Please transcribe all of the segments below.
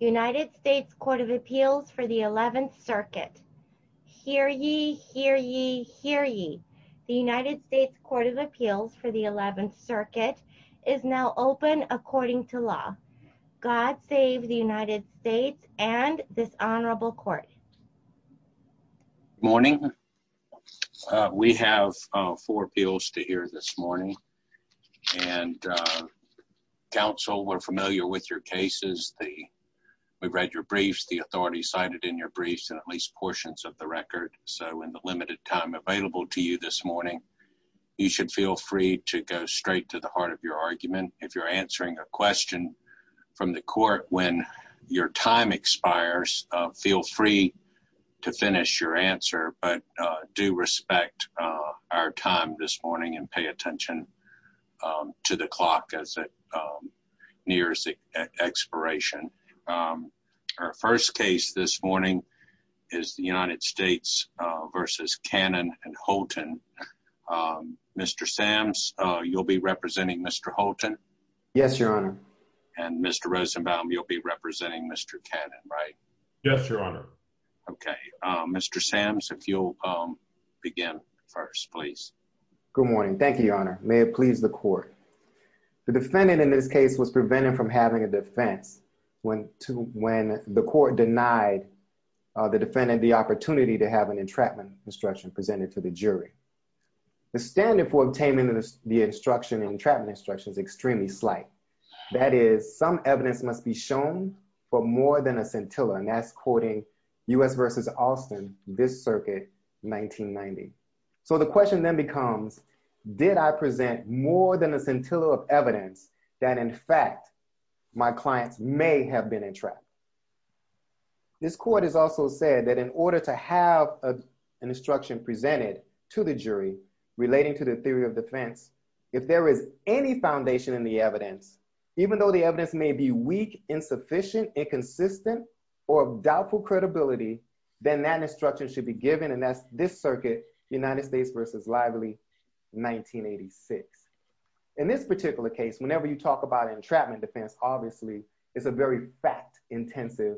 United States Court of Appeals for the 11th circuit. Hear ye, hear ye, hear ye. The United States Court of Appeals for the 11th circuit is now open according to law. God save the United States and this honorable court. Good morning. We have four appeals to hear this morning and uh, counsel are familiar with your cases. The we've read your briefs, the authority cited in your briefs and at least portions of the record. So in the limited time available to you this morning, you should feel free to go straight to the heart of your argument. If you're answering a question from the court when your time expires, feel free to finish your answer. But do respect our time this morning and pay attention to the clock as it nears the expiration. Our first case this morning is the United States versus Cannon and Holton. Mr. Sams, you'll be representing Mr. Holton. Yes, your honor. And Mr. Rosenbaum, you'll be representing Mr. Cannon, right? Yes, your honor. Okay. Mr. Sams, if you'll begin first, please. Good morning. Thank you, your honor. May it please the court. The defendant in this case was prevented from having a defense when the court denied the defendant the opportunity to have an entrapment instruction presented to the jury. The standard for obtaining the instruction extremely slight. That is, some evidence must be shown for more than a scintilla. And that's quoting U.S. versus Austin, this circuit, 1990. So the question then becomes, did I present more than a scintilla of evidence that in fact my clients may have been entrapped? This court has also said that in order to have an instruction presented to the jury relating to the defense, if there is any foundation in the evidence, even though the evidence may be weak, insufficient, inconsistent, or of doubtful credibility, then that instruction should be given. And that's this circuit, United States versus Lively, 1986. In this particular case, whenever you talk about entrapment defense, obviously it's a very fact-intensive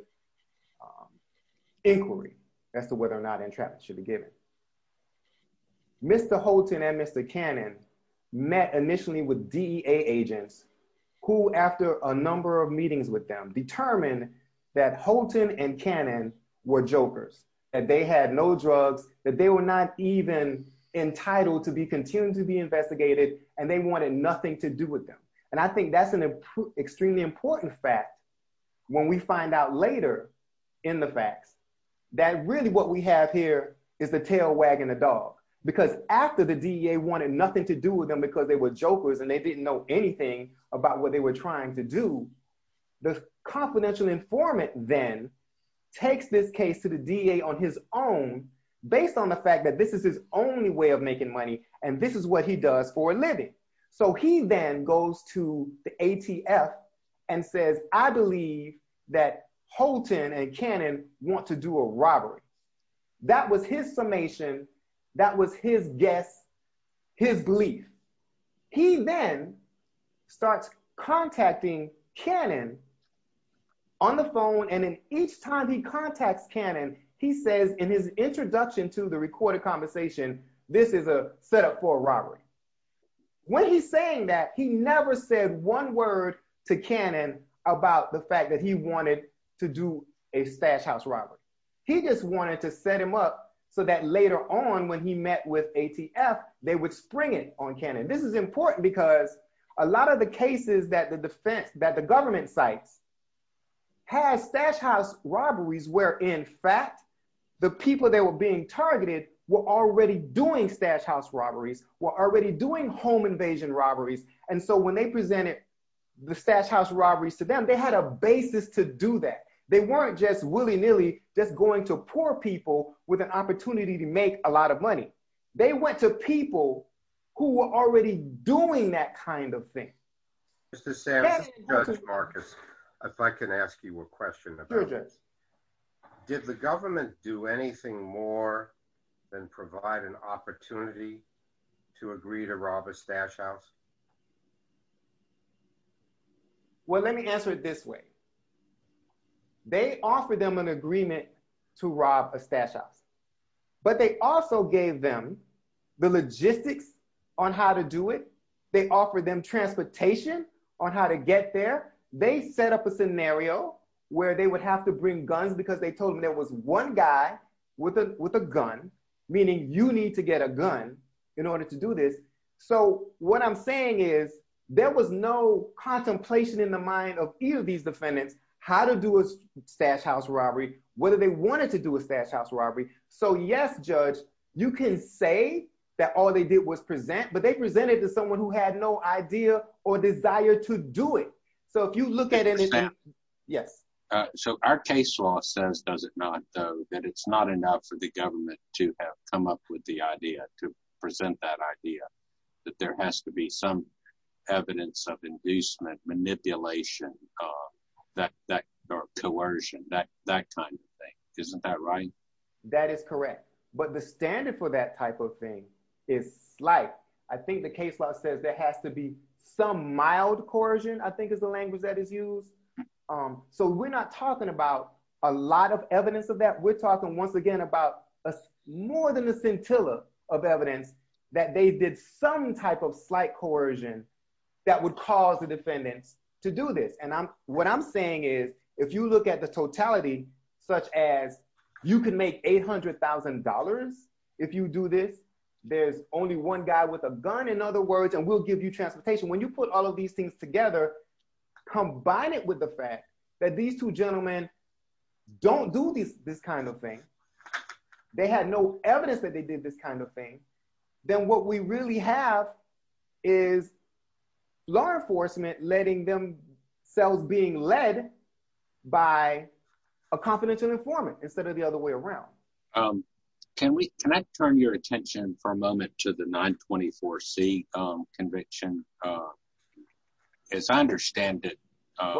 inquiry as to whether or not entrapment should be given. Mr. Holton and Mr. Cannon met initially with DEA agents who, after a number of meetings with them, determined that Holton and Cannon were jokers, that they had no drugs, that they were not even entitled to be continued to be investigated, and they wanted nothing to do with them. And I think that's an extremely important fact when we find out later in the facts that really what we have here is the tail wagging the dog. Because after the DEA wanted nothing to do with them because they were jokers and they didn't know anything about what they were trying to do, the confidential informant then takes this case to the DEA on his own based on the fact that this is his only way making money, and this is what he does for a living. So he then goes to the ATF and says, I believe that Holton and Cannon want to do a robbery. That was his summation, that was his guess, his belief. He then starts contacting Cannon on the phone, and then each time he contacts Cannon, he says in his introduction to the recorded conversation, this is a setup for a robbery. When he's saying that, he never said one word to Cannon about the fact that he wanted to do a stash house robbery. He just wanted to set him up so that later on when he met with ATF, they would spring it on Cannon. This is important because a lot of the cases that the government cites had stash house robberies where in fact the people that were being targeted were already doing stash house robberies, were already doing home invasion robberies, and so when they presented the stash house robberies to them, they had a basis to do that. They weren't just willy-nilly just going to poor people with an opportunity to make a lot of money. They went to people who were already doing that kind of thing. Mr. Sam, this is Judge Marcus. If I can ask you a question. Did the government do anything more than provide an opportunity to agree to rob a stash house? Well, let me answer it this way. They offered them an agreement to rob a stash house, but they also gave them the logistics on how to do it. They offered them transportation on how to get there. They set up a scenario where they would have to bring guns because they told them there was one guy with a gun, meaning you need to get a gun in order to do this. So what I'm saying is there was no contemplation in the mind of either of these defendants how to do a stash house robbery, whether they wanted to do a stash house robbery. So yes, Judge, you can say that all they did was present, but they presented to someone who had no idea or desire to do it. So if you look at it, yes. So our case law says, does it not, though, that it's not enough for the government to have come up with the idea, to present that idea, that there has to be some evidence of inducement, manipulation, or coercion, that kind of thing. Isn't that right? That is correct. But the standard for that type of thing is slight. I think the case law says there has to be some mild coercion, I think is the language that is used. So we're not talking about a lot of evidence of that. We're talking once again about more than a scintilla of evidence that they did some type of slight coercion that would cause the defendants to do this. And what I'm saying is, if you look at the totality, such as you can make $800,000 if you do this, there's only one guy with a gun, in other words, and we'll give you transportation. When you put all of these things together, combine it with the fact that these two gentlemen don't do this kind of thing, they had no evidence that they did this kind of thing, then what we really have is law enforcement letting themselves being led by a confidential informant instead of the other way around. Can I turn your attention for a moment to the 924C conviction? As I understand it-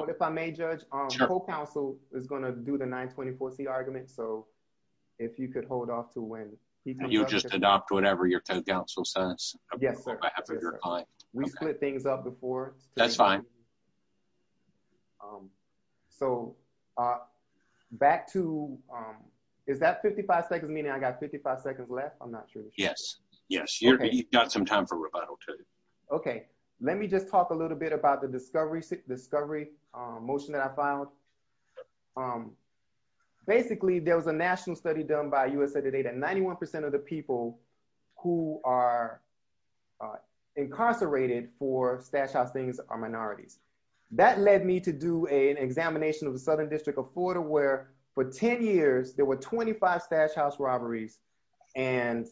If I may judge, the co-counsel is going to do the 924C argument. So if you could hold off to when- You just adopt whatever your co-counsel says. We split things up before. That's fine. So back to, is that 55 seconds meaning I got 55 seconds left? I'm not sure. Yes, yes. You've got some time for rebuttal too. Okay, let me just talk a little bit about the discovery motion that I filed. Basically, there was a national study done by USA Today that 91% of the people who are incarcerated for stash house things are minorities. That led me to do an examination of the Southern District of Florida where for 10 years there were 25 stash house robberies and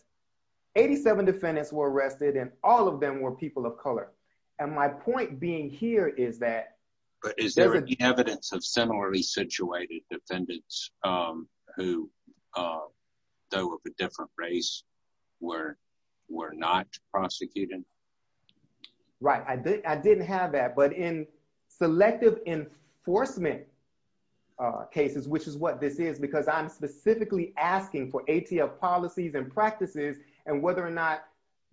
87 defendants were arrested and all of them were people of color. And my point being here is that- But is there any evidence of similarly situated defendants who though of a different race were not prosecuted? Right. I didn't have that, but in selective enforcement cases, which is what this is because I'm specifically asking for ATF policies and practices and whether or not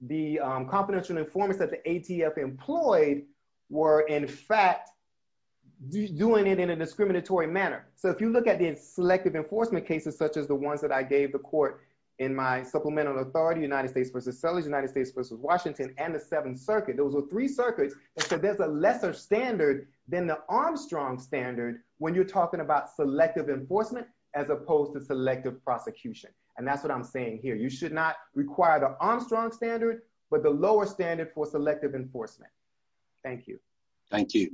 the confidential informants that the ATF employed were in fact doing it in a discriminatory manner. So if you look at the selective enforcement cases, such as the ones that I gave the court in my supplemental authority, United States versus Southerners, United States versus Washington and the Seventh Circuit, those were three circuits. And so there's a lesser standard than the Armstrong standard when you're talking about selective enforcement as opposed to selective prosecution. And that's what I'm saying here. You should not require the Armstrong standard, but the lower standard for selective enforcement. Thank you. Thank you.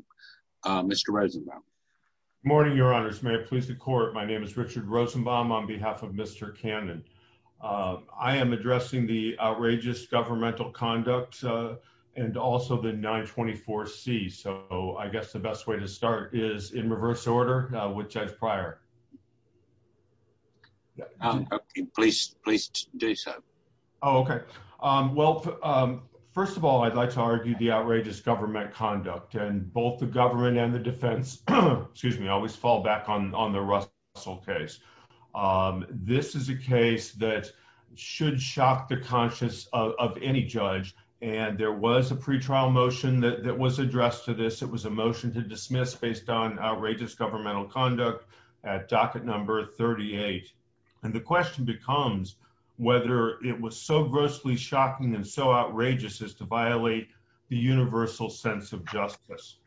Mr. Rosenbaum. Morning, your honors. May it please the court. My name is Richard Rosenbaum on behalf of Mr. Cannon. I am addressing the outrageous governmental conduct and also the 924C. So I guess the best way to start is in reverse order with Judge Pryor. Please, please do so. Oh, okay. Well, first of all, I'd like to argue the outrageous government conduct and both the should shock the conscience of any judge. And there was a pretrial motion that was addressed to this. It was a motion to dismiss based on outrageous governmental conduct at docket number 38. And the question becomes whether it was so grossly shocking and so outrageous as to violate the universal sense of justice.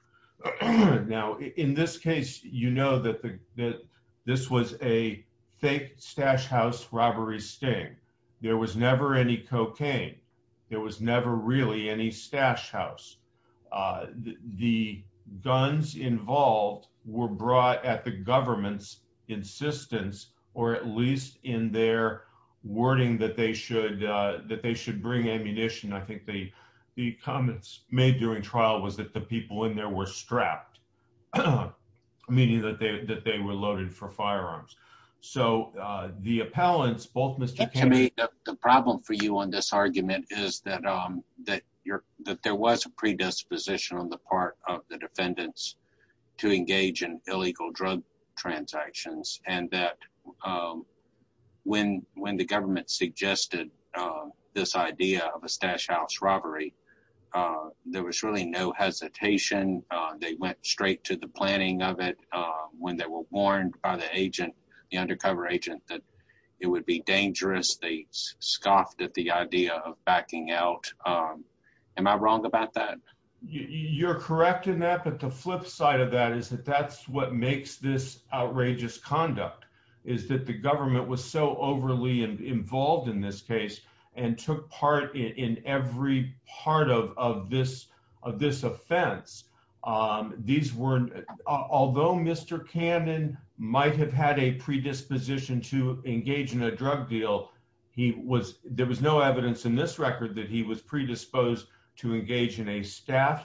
Now, in this case, you know that this was a fake stash house robbery sting. There was never any cocaine. There was never really any stash house. The guns involved were brought at the government's insistence, or at least in their wording that they should that they should bring ammunition. I think the comments made during trial was that the people in there were strapped, meaning that they were loaded for firearms. So the appellants, both Mr. Cannon... The problem for you on this argument is that there was a predisposition on the part of the defendants to engage in illegal drug transactions. And that when the government suggested this idea of a stash house robbery, there was really no hesitation. They went straight to the planning of it when they were warned by the agent, the undercover agent, that it would be dangerous. They scoffed at the idea of backing out. Am I wrong about that? You're correct in that, but the flip side of that is that that's what makes this outrageous conduct is that the government was so overly involved in this case and took part in every part of this offense. Although Mr. Cannon might have had a predisposition to engage in a drug deal, there was no evidence in this record that he was predisposed to engage in a stash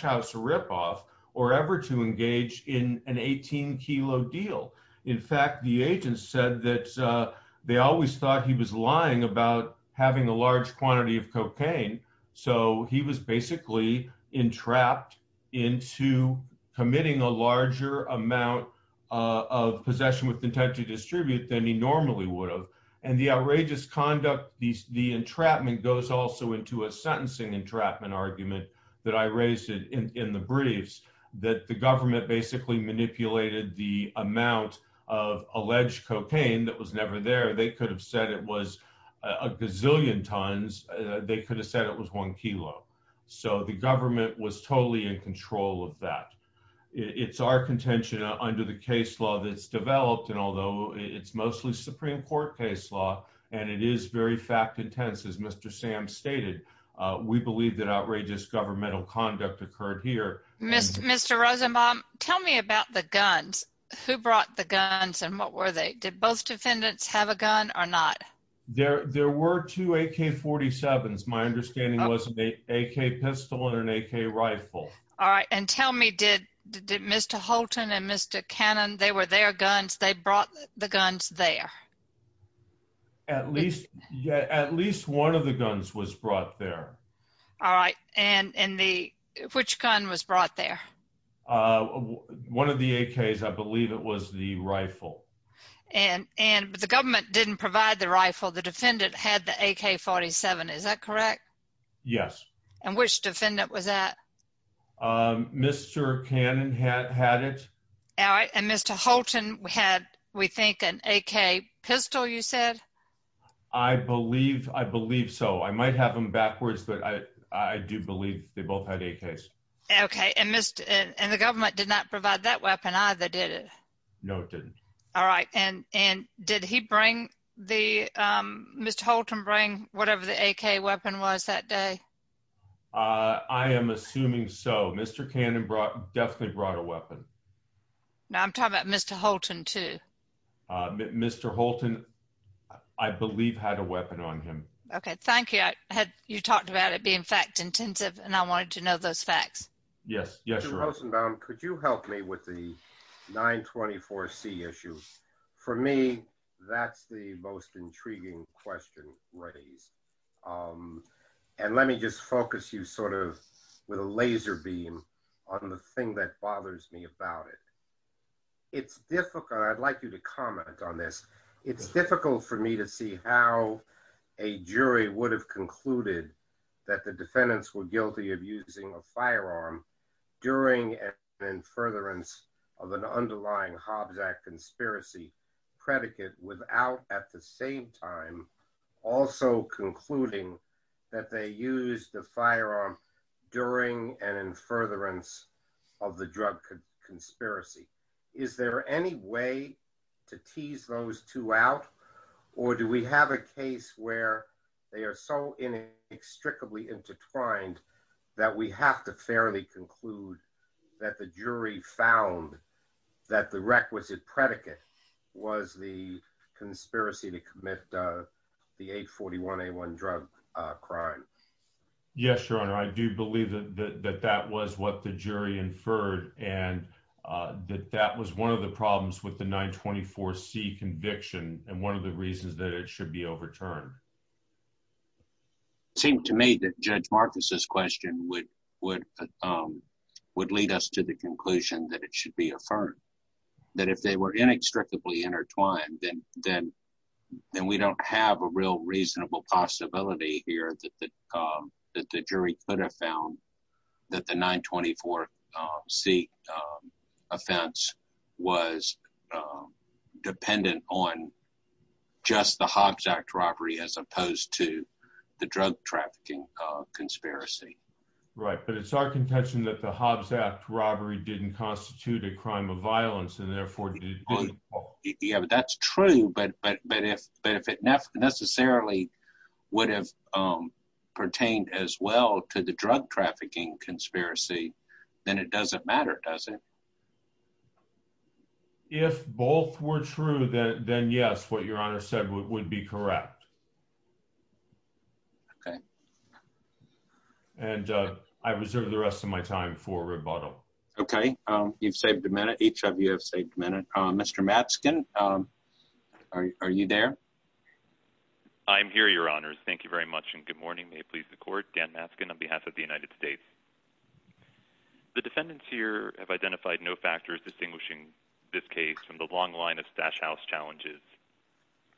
house ripoff or ever to engage in an 18 kilo deal. In fact, the agent said that they always thought he was lying about having a large quantity of cocaine. So he was basically entrapped into committing a larger amount of possession with intent to distribute than he normally would have. And the outrageous conduct, the entrapment goes also into a sentencing entrapment argument that I raised in the briefs that the government basically manipulated the amount of alleged cocaine that was never there. They could have said it was a gazillion tons. They could have said it was one kilo. So the government was totally in control of that. It's our contention under the case law that's developed. And although it's mostly Supreme Court case law, and it is very fact intense, as Mr. Sam stated, we believe that outrageous governmental conduct occurred here. Mr. Rosenbaum, tell me about the guns. Who brought the guns and what were they? Did both defendants have a gun or not? There were two AK-47s. My understanding was an AK pistol and an AK rifle. All right. And tell me, did Mr. Holton and Mr. Cannon, they were their guns, they brought the guns there? At least one of the guns was brought there. All right. And which gun was brought there? One of the AKs, I believe it was the rifle. And the government didn't provide the rifle. The defendant had the AK-47, is that correct? Yes. And which defendant was that? Mr. Cannon had it. All right. And Mr. Holton had, we think, an AK pistol, you said? I believe so. I might have them backwards, but I do believe they both had AKs. Okay. And the government did not provide that weapon either, did it? No, it didn't. All right. And did Mr. Holton bring whatever the AK weapon was that day? I am assuming so. Mr. Cannon definitely brought a weapon. Now, I'm talking about Mr. Holton too. Mr. Holton, I believe, had a weapon on him. Okay. Thank you. You talked about it being fact-intensive and I wanted to know those facts. Yes. Yes. Mr. Rosenbaum, could you help me with the 924C issue? For me, that's the most intriguing question raised. And let me just focus you sort of with a laser beam on the thing that bothers me about it. It's difficult. I'd like you to comment on this. It's difficult for me to see how a jury would have concluded that the defendants were guilty of using a firearm during and in furtherance of an underlying Hobbs Act conspiracy predicate without at the same time also concluding that they used the firearm during and in furtherance of the drug conspiracy. Is there any way to tease those two out? Or do we have a case where they are so inextricably intertwined that we have to fairly conclude that the jury found that the requisite predicate was the conspiracy to commit the 841A1 drug crime? Yes, Your Honor. I do believe that that was what the jury inferred and that that was one of the problems with the 924C conviction and one of the reasons that it should be overturned. It seemed to me that Judge Marcus's question would lead us to the conclusion that it should be affirmed. That if they were inextricably intertwined, then we don't have a real possibility here that the jury could have found that the 924C offense was dependent on just the Hobbs Act robbery as opposed to the drug trafficking conspiracy. Right, but it's our contention that the Hobbs Act robbery didn't constitute a crime of violence and would have pertained as well to the drug trafficking conspiracy. Then it doesn't matter, does it? If both were true, then yes, what Your Honor said would be correct. Okay. And I reserve the rest of my time for rebuttal. Okay, you've saved a minute. Each Your Honor, thank you very much and good morning. May it please the court, Dan Masken on behalf of the United States. The defendants here have identified no factors distinguishing this case from the long line of stash house challenges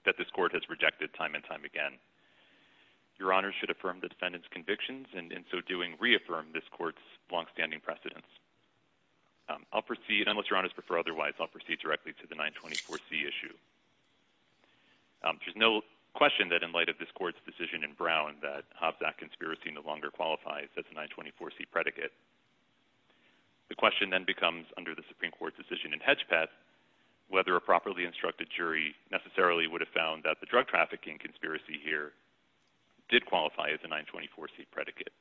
that this court has rejected time and time again. Your Honor should affirm the defendant's convictions and in so doing reaffirm this court's longstanding precedence. I'll proceed, unless Your Honor prefer otherwise, I'll proceed directly to the 924C issue. There's no question that in this court's decision in Brown that Hobbs Act conspiracy no longer qualifies as a 924C predicate. The question then becomes under the Supreme Court decision in Hedgepeth, whether a properly instructed jury necessarily would have found that the drug trafficking conspiracy here did qualify as a 924C predicate.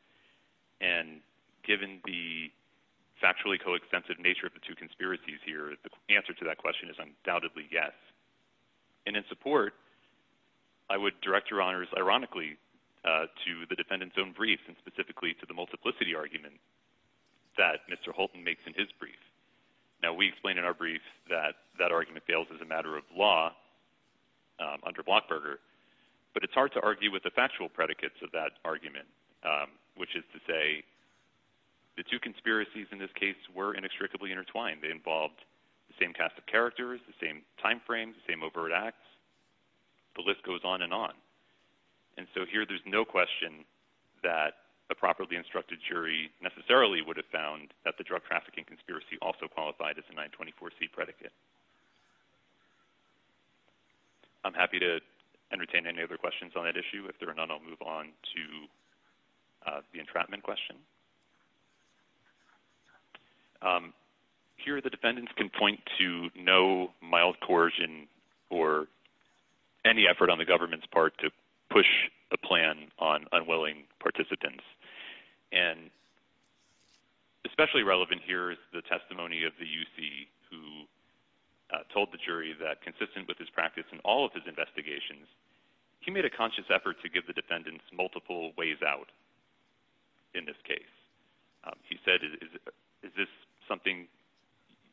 And given the factually coextensive nature of the two conspiracies here, the answer to that question is undoubtedly yes. And in support, I would direct Your Honor's ironically to the defendant's own brief and specifically to the multiplicity argument that Mr. Holton makes in his brief. Now we explained in our brief that that argument fails as a matter of law under Blockberger, but it's hard to argue with the factual predicates of that argument, which is to say the two conspiracies in this case were inextricably intertwined. They involved the same cast of characters, the same timeframes, the same overt acts. The list goes on and on. And so here there's no question that a properly instructed jury necessarily would have found that the drug trafficking conspiracy also qualified as a 924C predicate. I'm happy to entertain any other questions on that issue. If there are none, I'll move on to the entrapment question. Here the defendants can point to no mild coercion or any effort on the government's part to push a plan on unwilling participants. And especially relevant here is the testimony of the UC who told the jury that consistent with his practice in all of his investigations, he made a conscious effort to give the defendants multiple ways out in this case. He said, is this something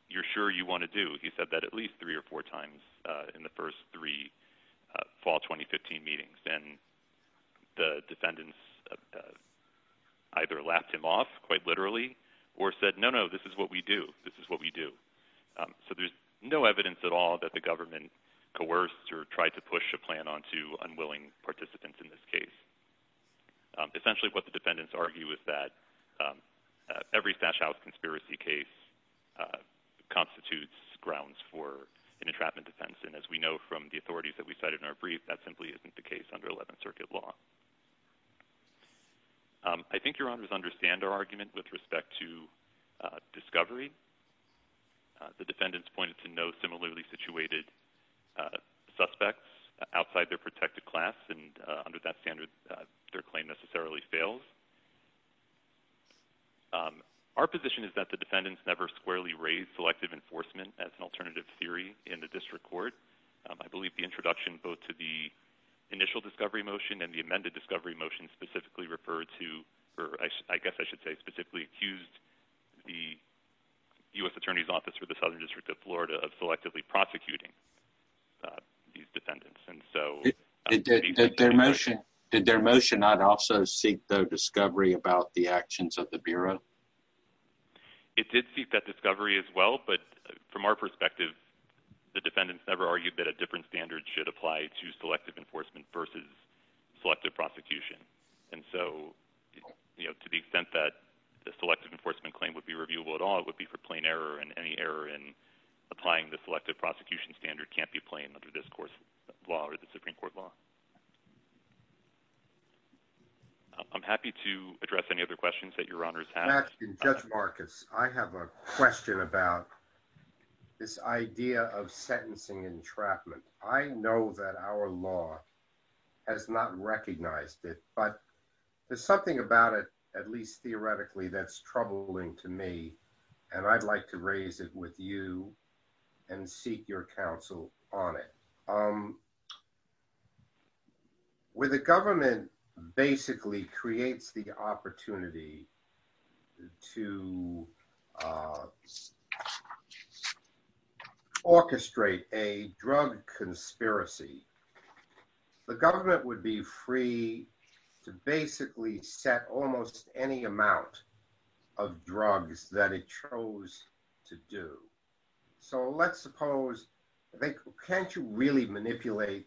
you're sure you want to do? He said that at least three or four times in the first three fall 2015 meetings. And the defendants either laughed him off quite literally or said, no, no, this is what we do. This is what we do. So there's no evidence at all that the government coerced or tried to push a plan onto unwilling participants in this case. Essentially what the defendants argue is that every Stash House conspiracy case constitutes grounds for an entrapment defense. And as we know from the authorities that we cited in our brief, that simply isn't the case under 11th circuit law. I think your honors understand our argument with respect to discovery. The defendants pointed to no similarly situated suspects outside their protected class. And under that standard, their claim necessarily fails. Our position is that the defendants never squarely raised selective enforcement as an alternative theory in the district court. I believe the introduction both to the initial discovery motion and the amended discovery motion specifically referred to, or I guess I should say specifically accused the U.S. attorney's office for the Southern District of Florida of selectively prosecuting these defendants. And so did their motion not also seek the discovery about the actions of the Bureau? It did seek that discovery as well, but from our perspective, the defendants never argued that a different standard should apply to selective enforcement versus selective prosecution. And so, you know, to the extent that the selective enforcement claim would be for plain error and any error in applying the selective prosecution standard can't be plain under this course of law or the Supreme Court law. I'm happy to address any other questions that your honors have. Judge Marcus, I have a question about this idea of sentencing entrapment. I know that our law has not recognized it, but there's something about it, at least theoretically, that's troubling to me, and I'd like to raise it with you and seek your counsel on it. With the government basically creates the opportunity to orchestrate a drug conspiracy. The government would be free to basically set almost any amount of drugs that it chose to do. So let's suppose, can't you really manipulate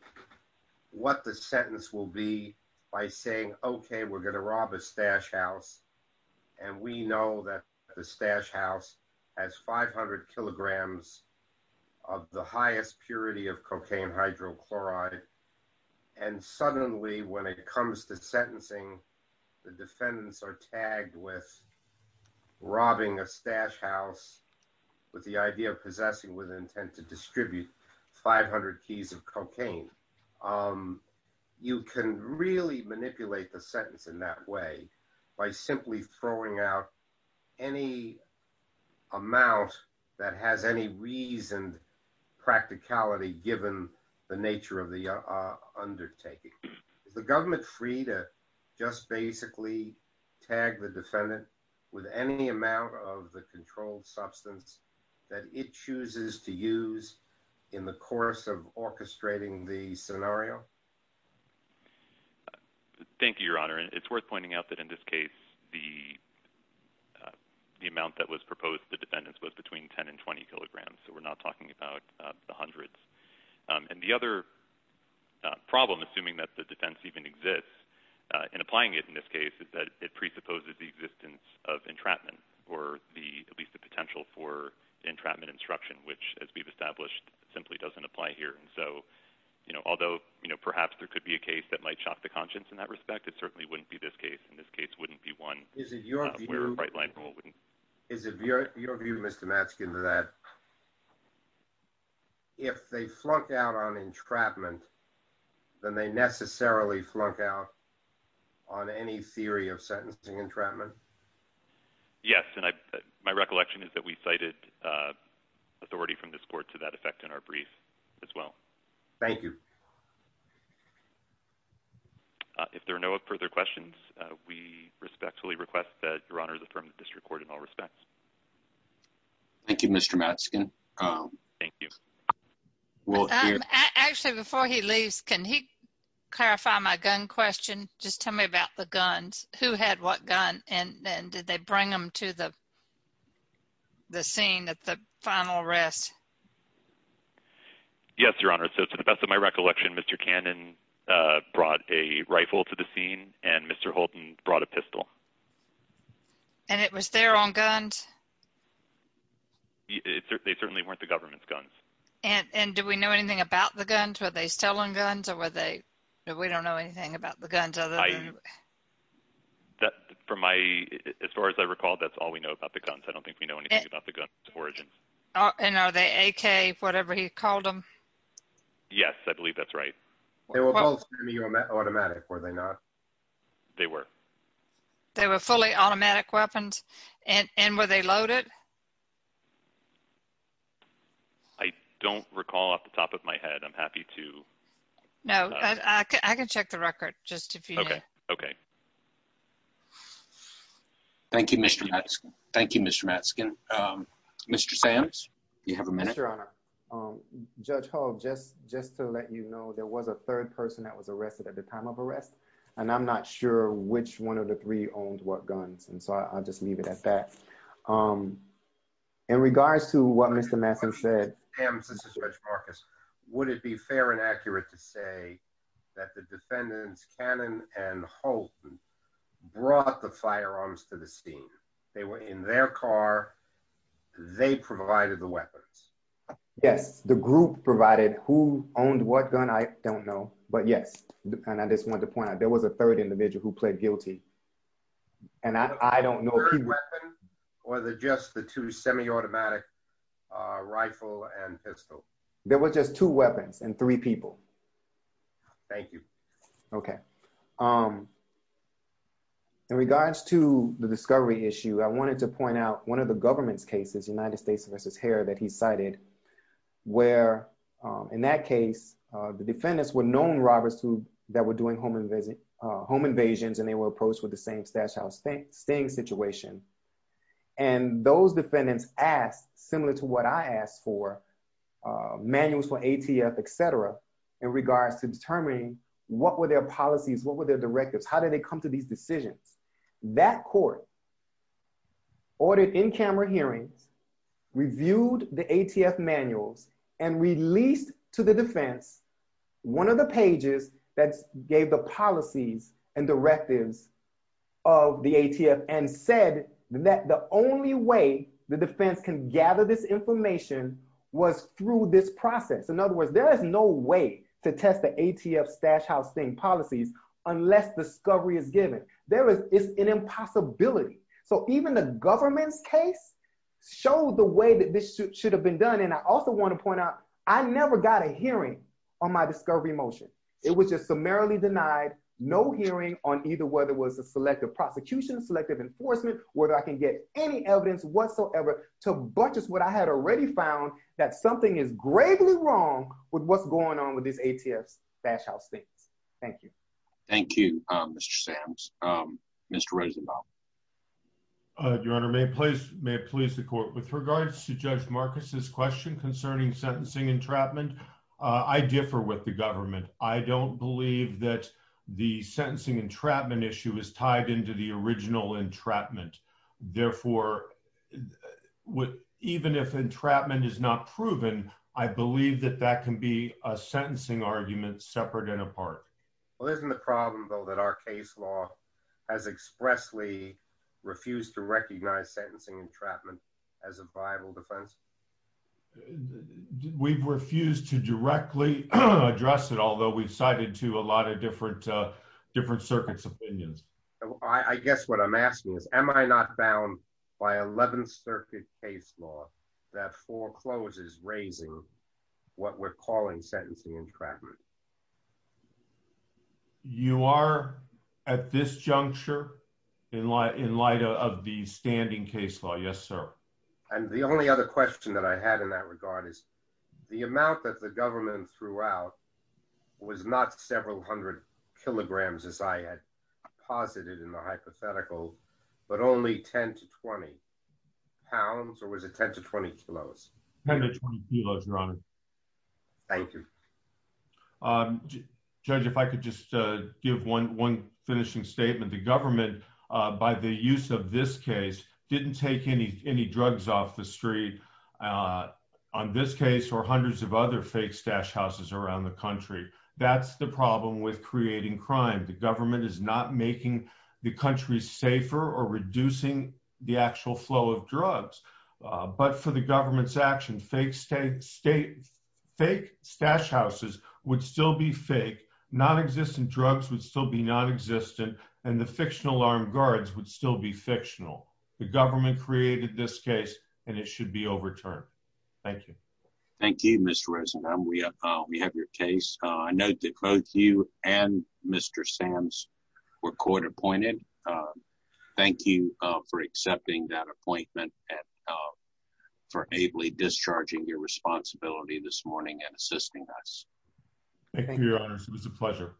what the sentence will be by saying, okay, we're going to rob a stash house, and we know that the stash house has 500 kilograms of the highest purity of cocaine hydrochloride. And suddenly when it comes to sentencing, the defendants are tagged with robbing a stash house with the idea of possessing with intent to distribute 500 keys of cocaine. You can really manipulate the sentence in that way by simply throwing out any amount that has any reason practicality, given the nature of the undertaking. Is the government free to just basically tag the defendant with any amount of the controlled substance that it chooses to use in the course of orchestrating the scenario? Thank you, your honor. It's worth pointing out that in this case, the amount that was proposed the defendants was between 10 and 20 kilograms. So we're not talking about the hundreds. And the other problem, assuming that the defense even exists and applying it in this case, is that it presupposes the existence of entrapment or at least the potential for entrapment instruction, which as we've established, simply doesn't apply here. And so, although perhaps there could be a case that might shock the conscience in that respect, it certainly wouldn't be this case. In this case, it wouldn't be one. Is it your view, Mr. Matzkin, that if they flunked out on entrapment, then they necessarily flunk out on any theory of sentencing entrapment? Yes. And my recollection is that we cited authority from this court to that effect in our brief as well. Thank you. If there are no further questions, we respectfully request that your honor affirm the district court in all respects. Thank you, Mr. Matzkin. Thank you. Actually, before he leaves, can he clarify my gun question? Just tell me about the Yes, your honor. So, to the best of my recollection, Mr. Cannon brought a rifle to the scene and Mr. Holton brought a pistol. And it was there on guns? They certainly weren't the government's guns. And do we know anything about the guns? Were they still on guns or were they, we don't know anything about the guns? As far as I recall, that's all we know about the guns. I don't think we know anything about the guns. I think he called them. Yes, I believe that's right. They were both semi-automatic, were they not? They were. They were fully automatic weapons? And were they loaded? I don't recall off the top of my head. I'm happy to. No, I can check the record just if you need. Okay. Thank you, Mr. Matzkin. Thank you, Mr. Matzkin. Mr. Sams, do you have a minute? Yes, your honor. Judge Hull, just to let you know, there was a third person that was arrested at the time of arrest. And I'm not sure which one of the three owned what guns. And so I'll just leave it at that. In regards to what Mr. Matzkin said- Mr. Sams, this is Judge Marcus. Would it be fair and accurate to say that the defendants, Cannon and Holton, brought the firearms to the scene? They were in their car. They provided the weapons? Yes, the group provided who owned what gun, I don't know. But yes, and I just wanted to point out, there was a third individual who played guilty. And I don't know- Was it just the two semi-automatic rifle and pistol? There were just two weapons and three people. Thank you. Okay. In regards to the discovery issue, I wanted to point out one of the government's cases, United States v. Hare, that he cited, where in that case, the defendants were known robbers that were doing home invasions, and they were approached with the same stash house staying situation. And those defendants asked, similar to what I asked for, manuals for ATF, et cetera, in regards to determining what were their policies, what were their directives? How did they come to these decisions? That court ordered in-camera hearings, reviewed the ATF manuals, and released to the defense one of the pages that gave the policies and directives of the ATF, and said that the only way the defense can gather this information was through this process. In other words, there is no way to test the ATF stash house staying policies unless discovery is given. It's an impossibility. So even the government's case showed the way that this should have been done. And I also want to point out, I never got a hearing on my discovery motion. It was just summarily denied, no hearing on either whether it was a selective prosecution, selective enforcement, whether I can get any evidence whatsoever to buttress what I had already found, that something is gravely wrong with what's going on with these ATF stash house things. Thank you. Thank you, Mr. Samms. Mr. Rosenbaum. Your Honor, may it please the court, with regards to Judge Marcus's question concerning sentencing entrapment, I differ with the government. I don't believe that the sentencing entrapment issue is tied into the original entrapment. Therefore, even if entrapment is not proven, I believe that that can be a sentencing argument separate and apart. Well, isn't the problem though that our case law has expressly refused to recognize sentencing entrapment as a viable defense? We've refused to directly address it, although we've cited to a lot of different circuits' opinions. I guess what I'm asking is, am I not bound by 11th Circuit case law that forecloses raising what we're calling sentencing entrapment? You are at this juncture in light of the standing case law. Yes, sir. And the only other question that I had in that regard is the amount that the government threw out was not several hundred kilograms as I had posited in the hypothetical, but only 10 to 20 pounds, or was it 10 to 20 kilos? 10 to 20 kilos, Your Honor. Thank you. Judge, if I could just give one finishing statement. The government, by the use of this case, didn't take any drugs off the street. On this case, or hundreds of other fake stash houses around the country. That's the problem with creating crime. The government is not making the country safer or reducing the actual flow of drugs. But for the government's action, fake stash houses would still be fake, non-existent drugs would still be non-existent, and the fictional armed guards would still be fictional. The government created this case, and it should be overturned. Thank you. Thank you, Mr. Rosenbaum. We have your case. I note that both you and Mr. Sams were court appointed. Thank you for accepting that appointment and for ably discharging your responsibility this morning and assisting us. Thank you, Your Honors. It was a pleasure.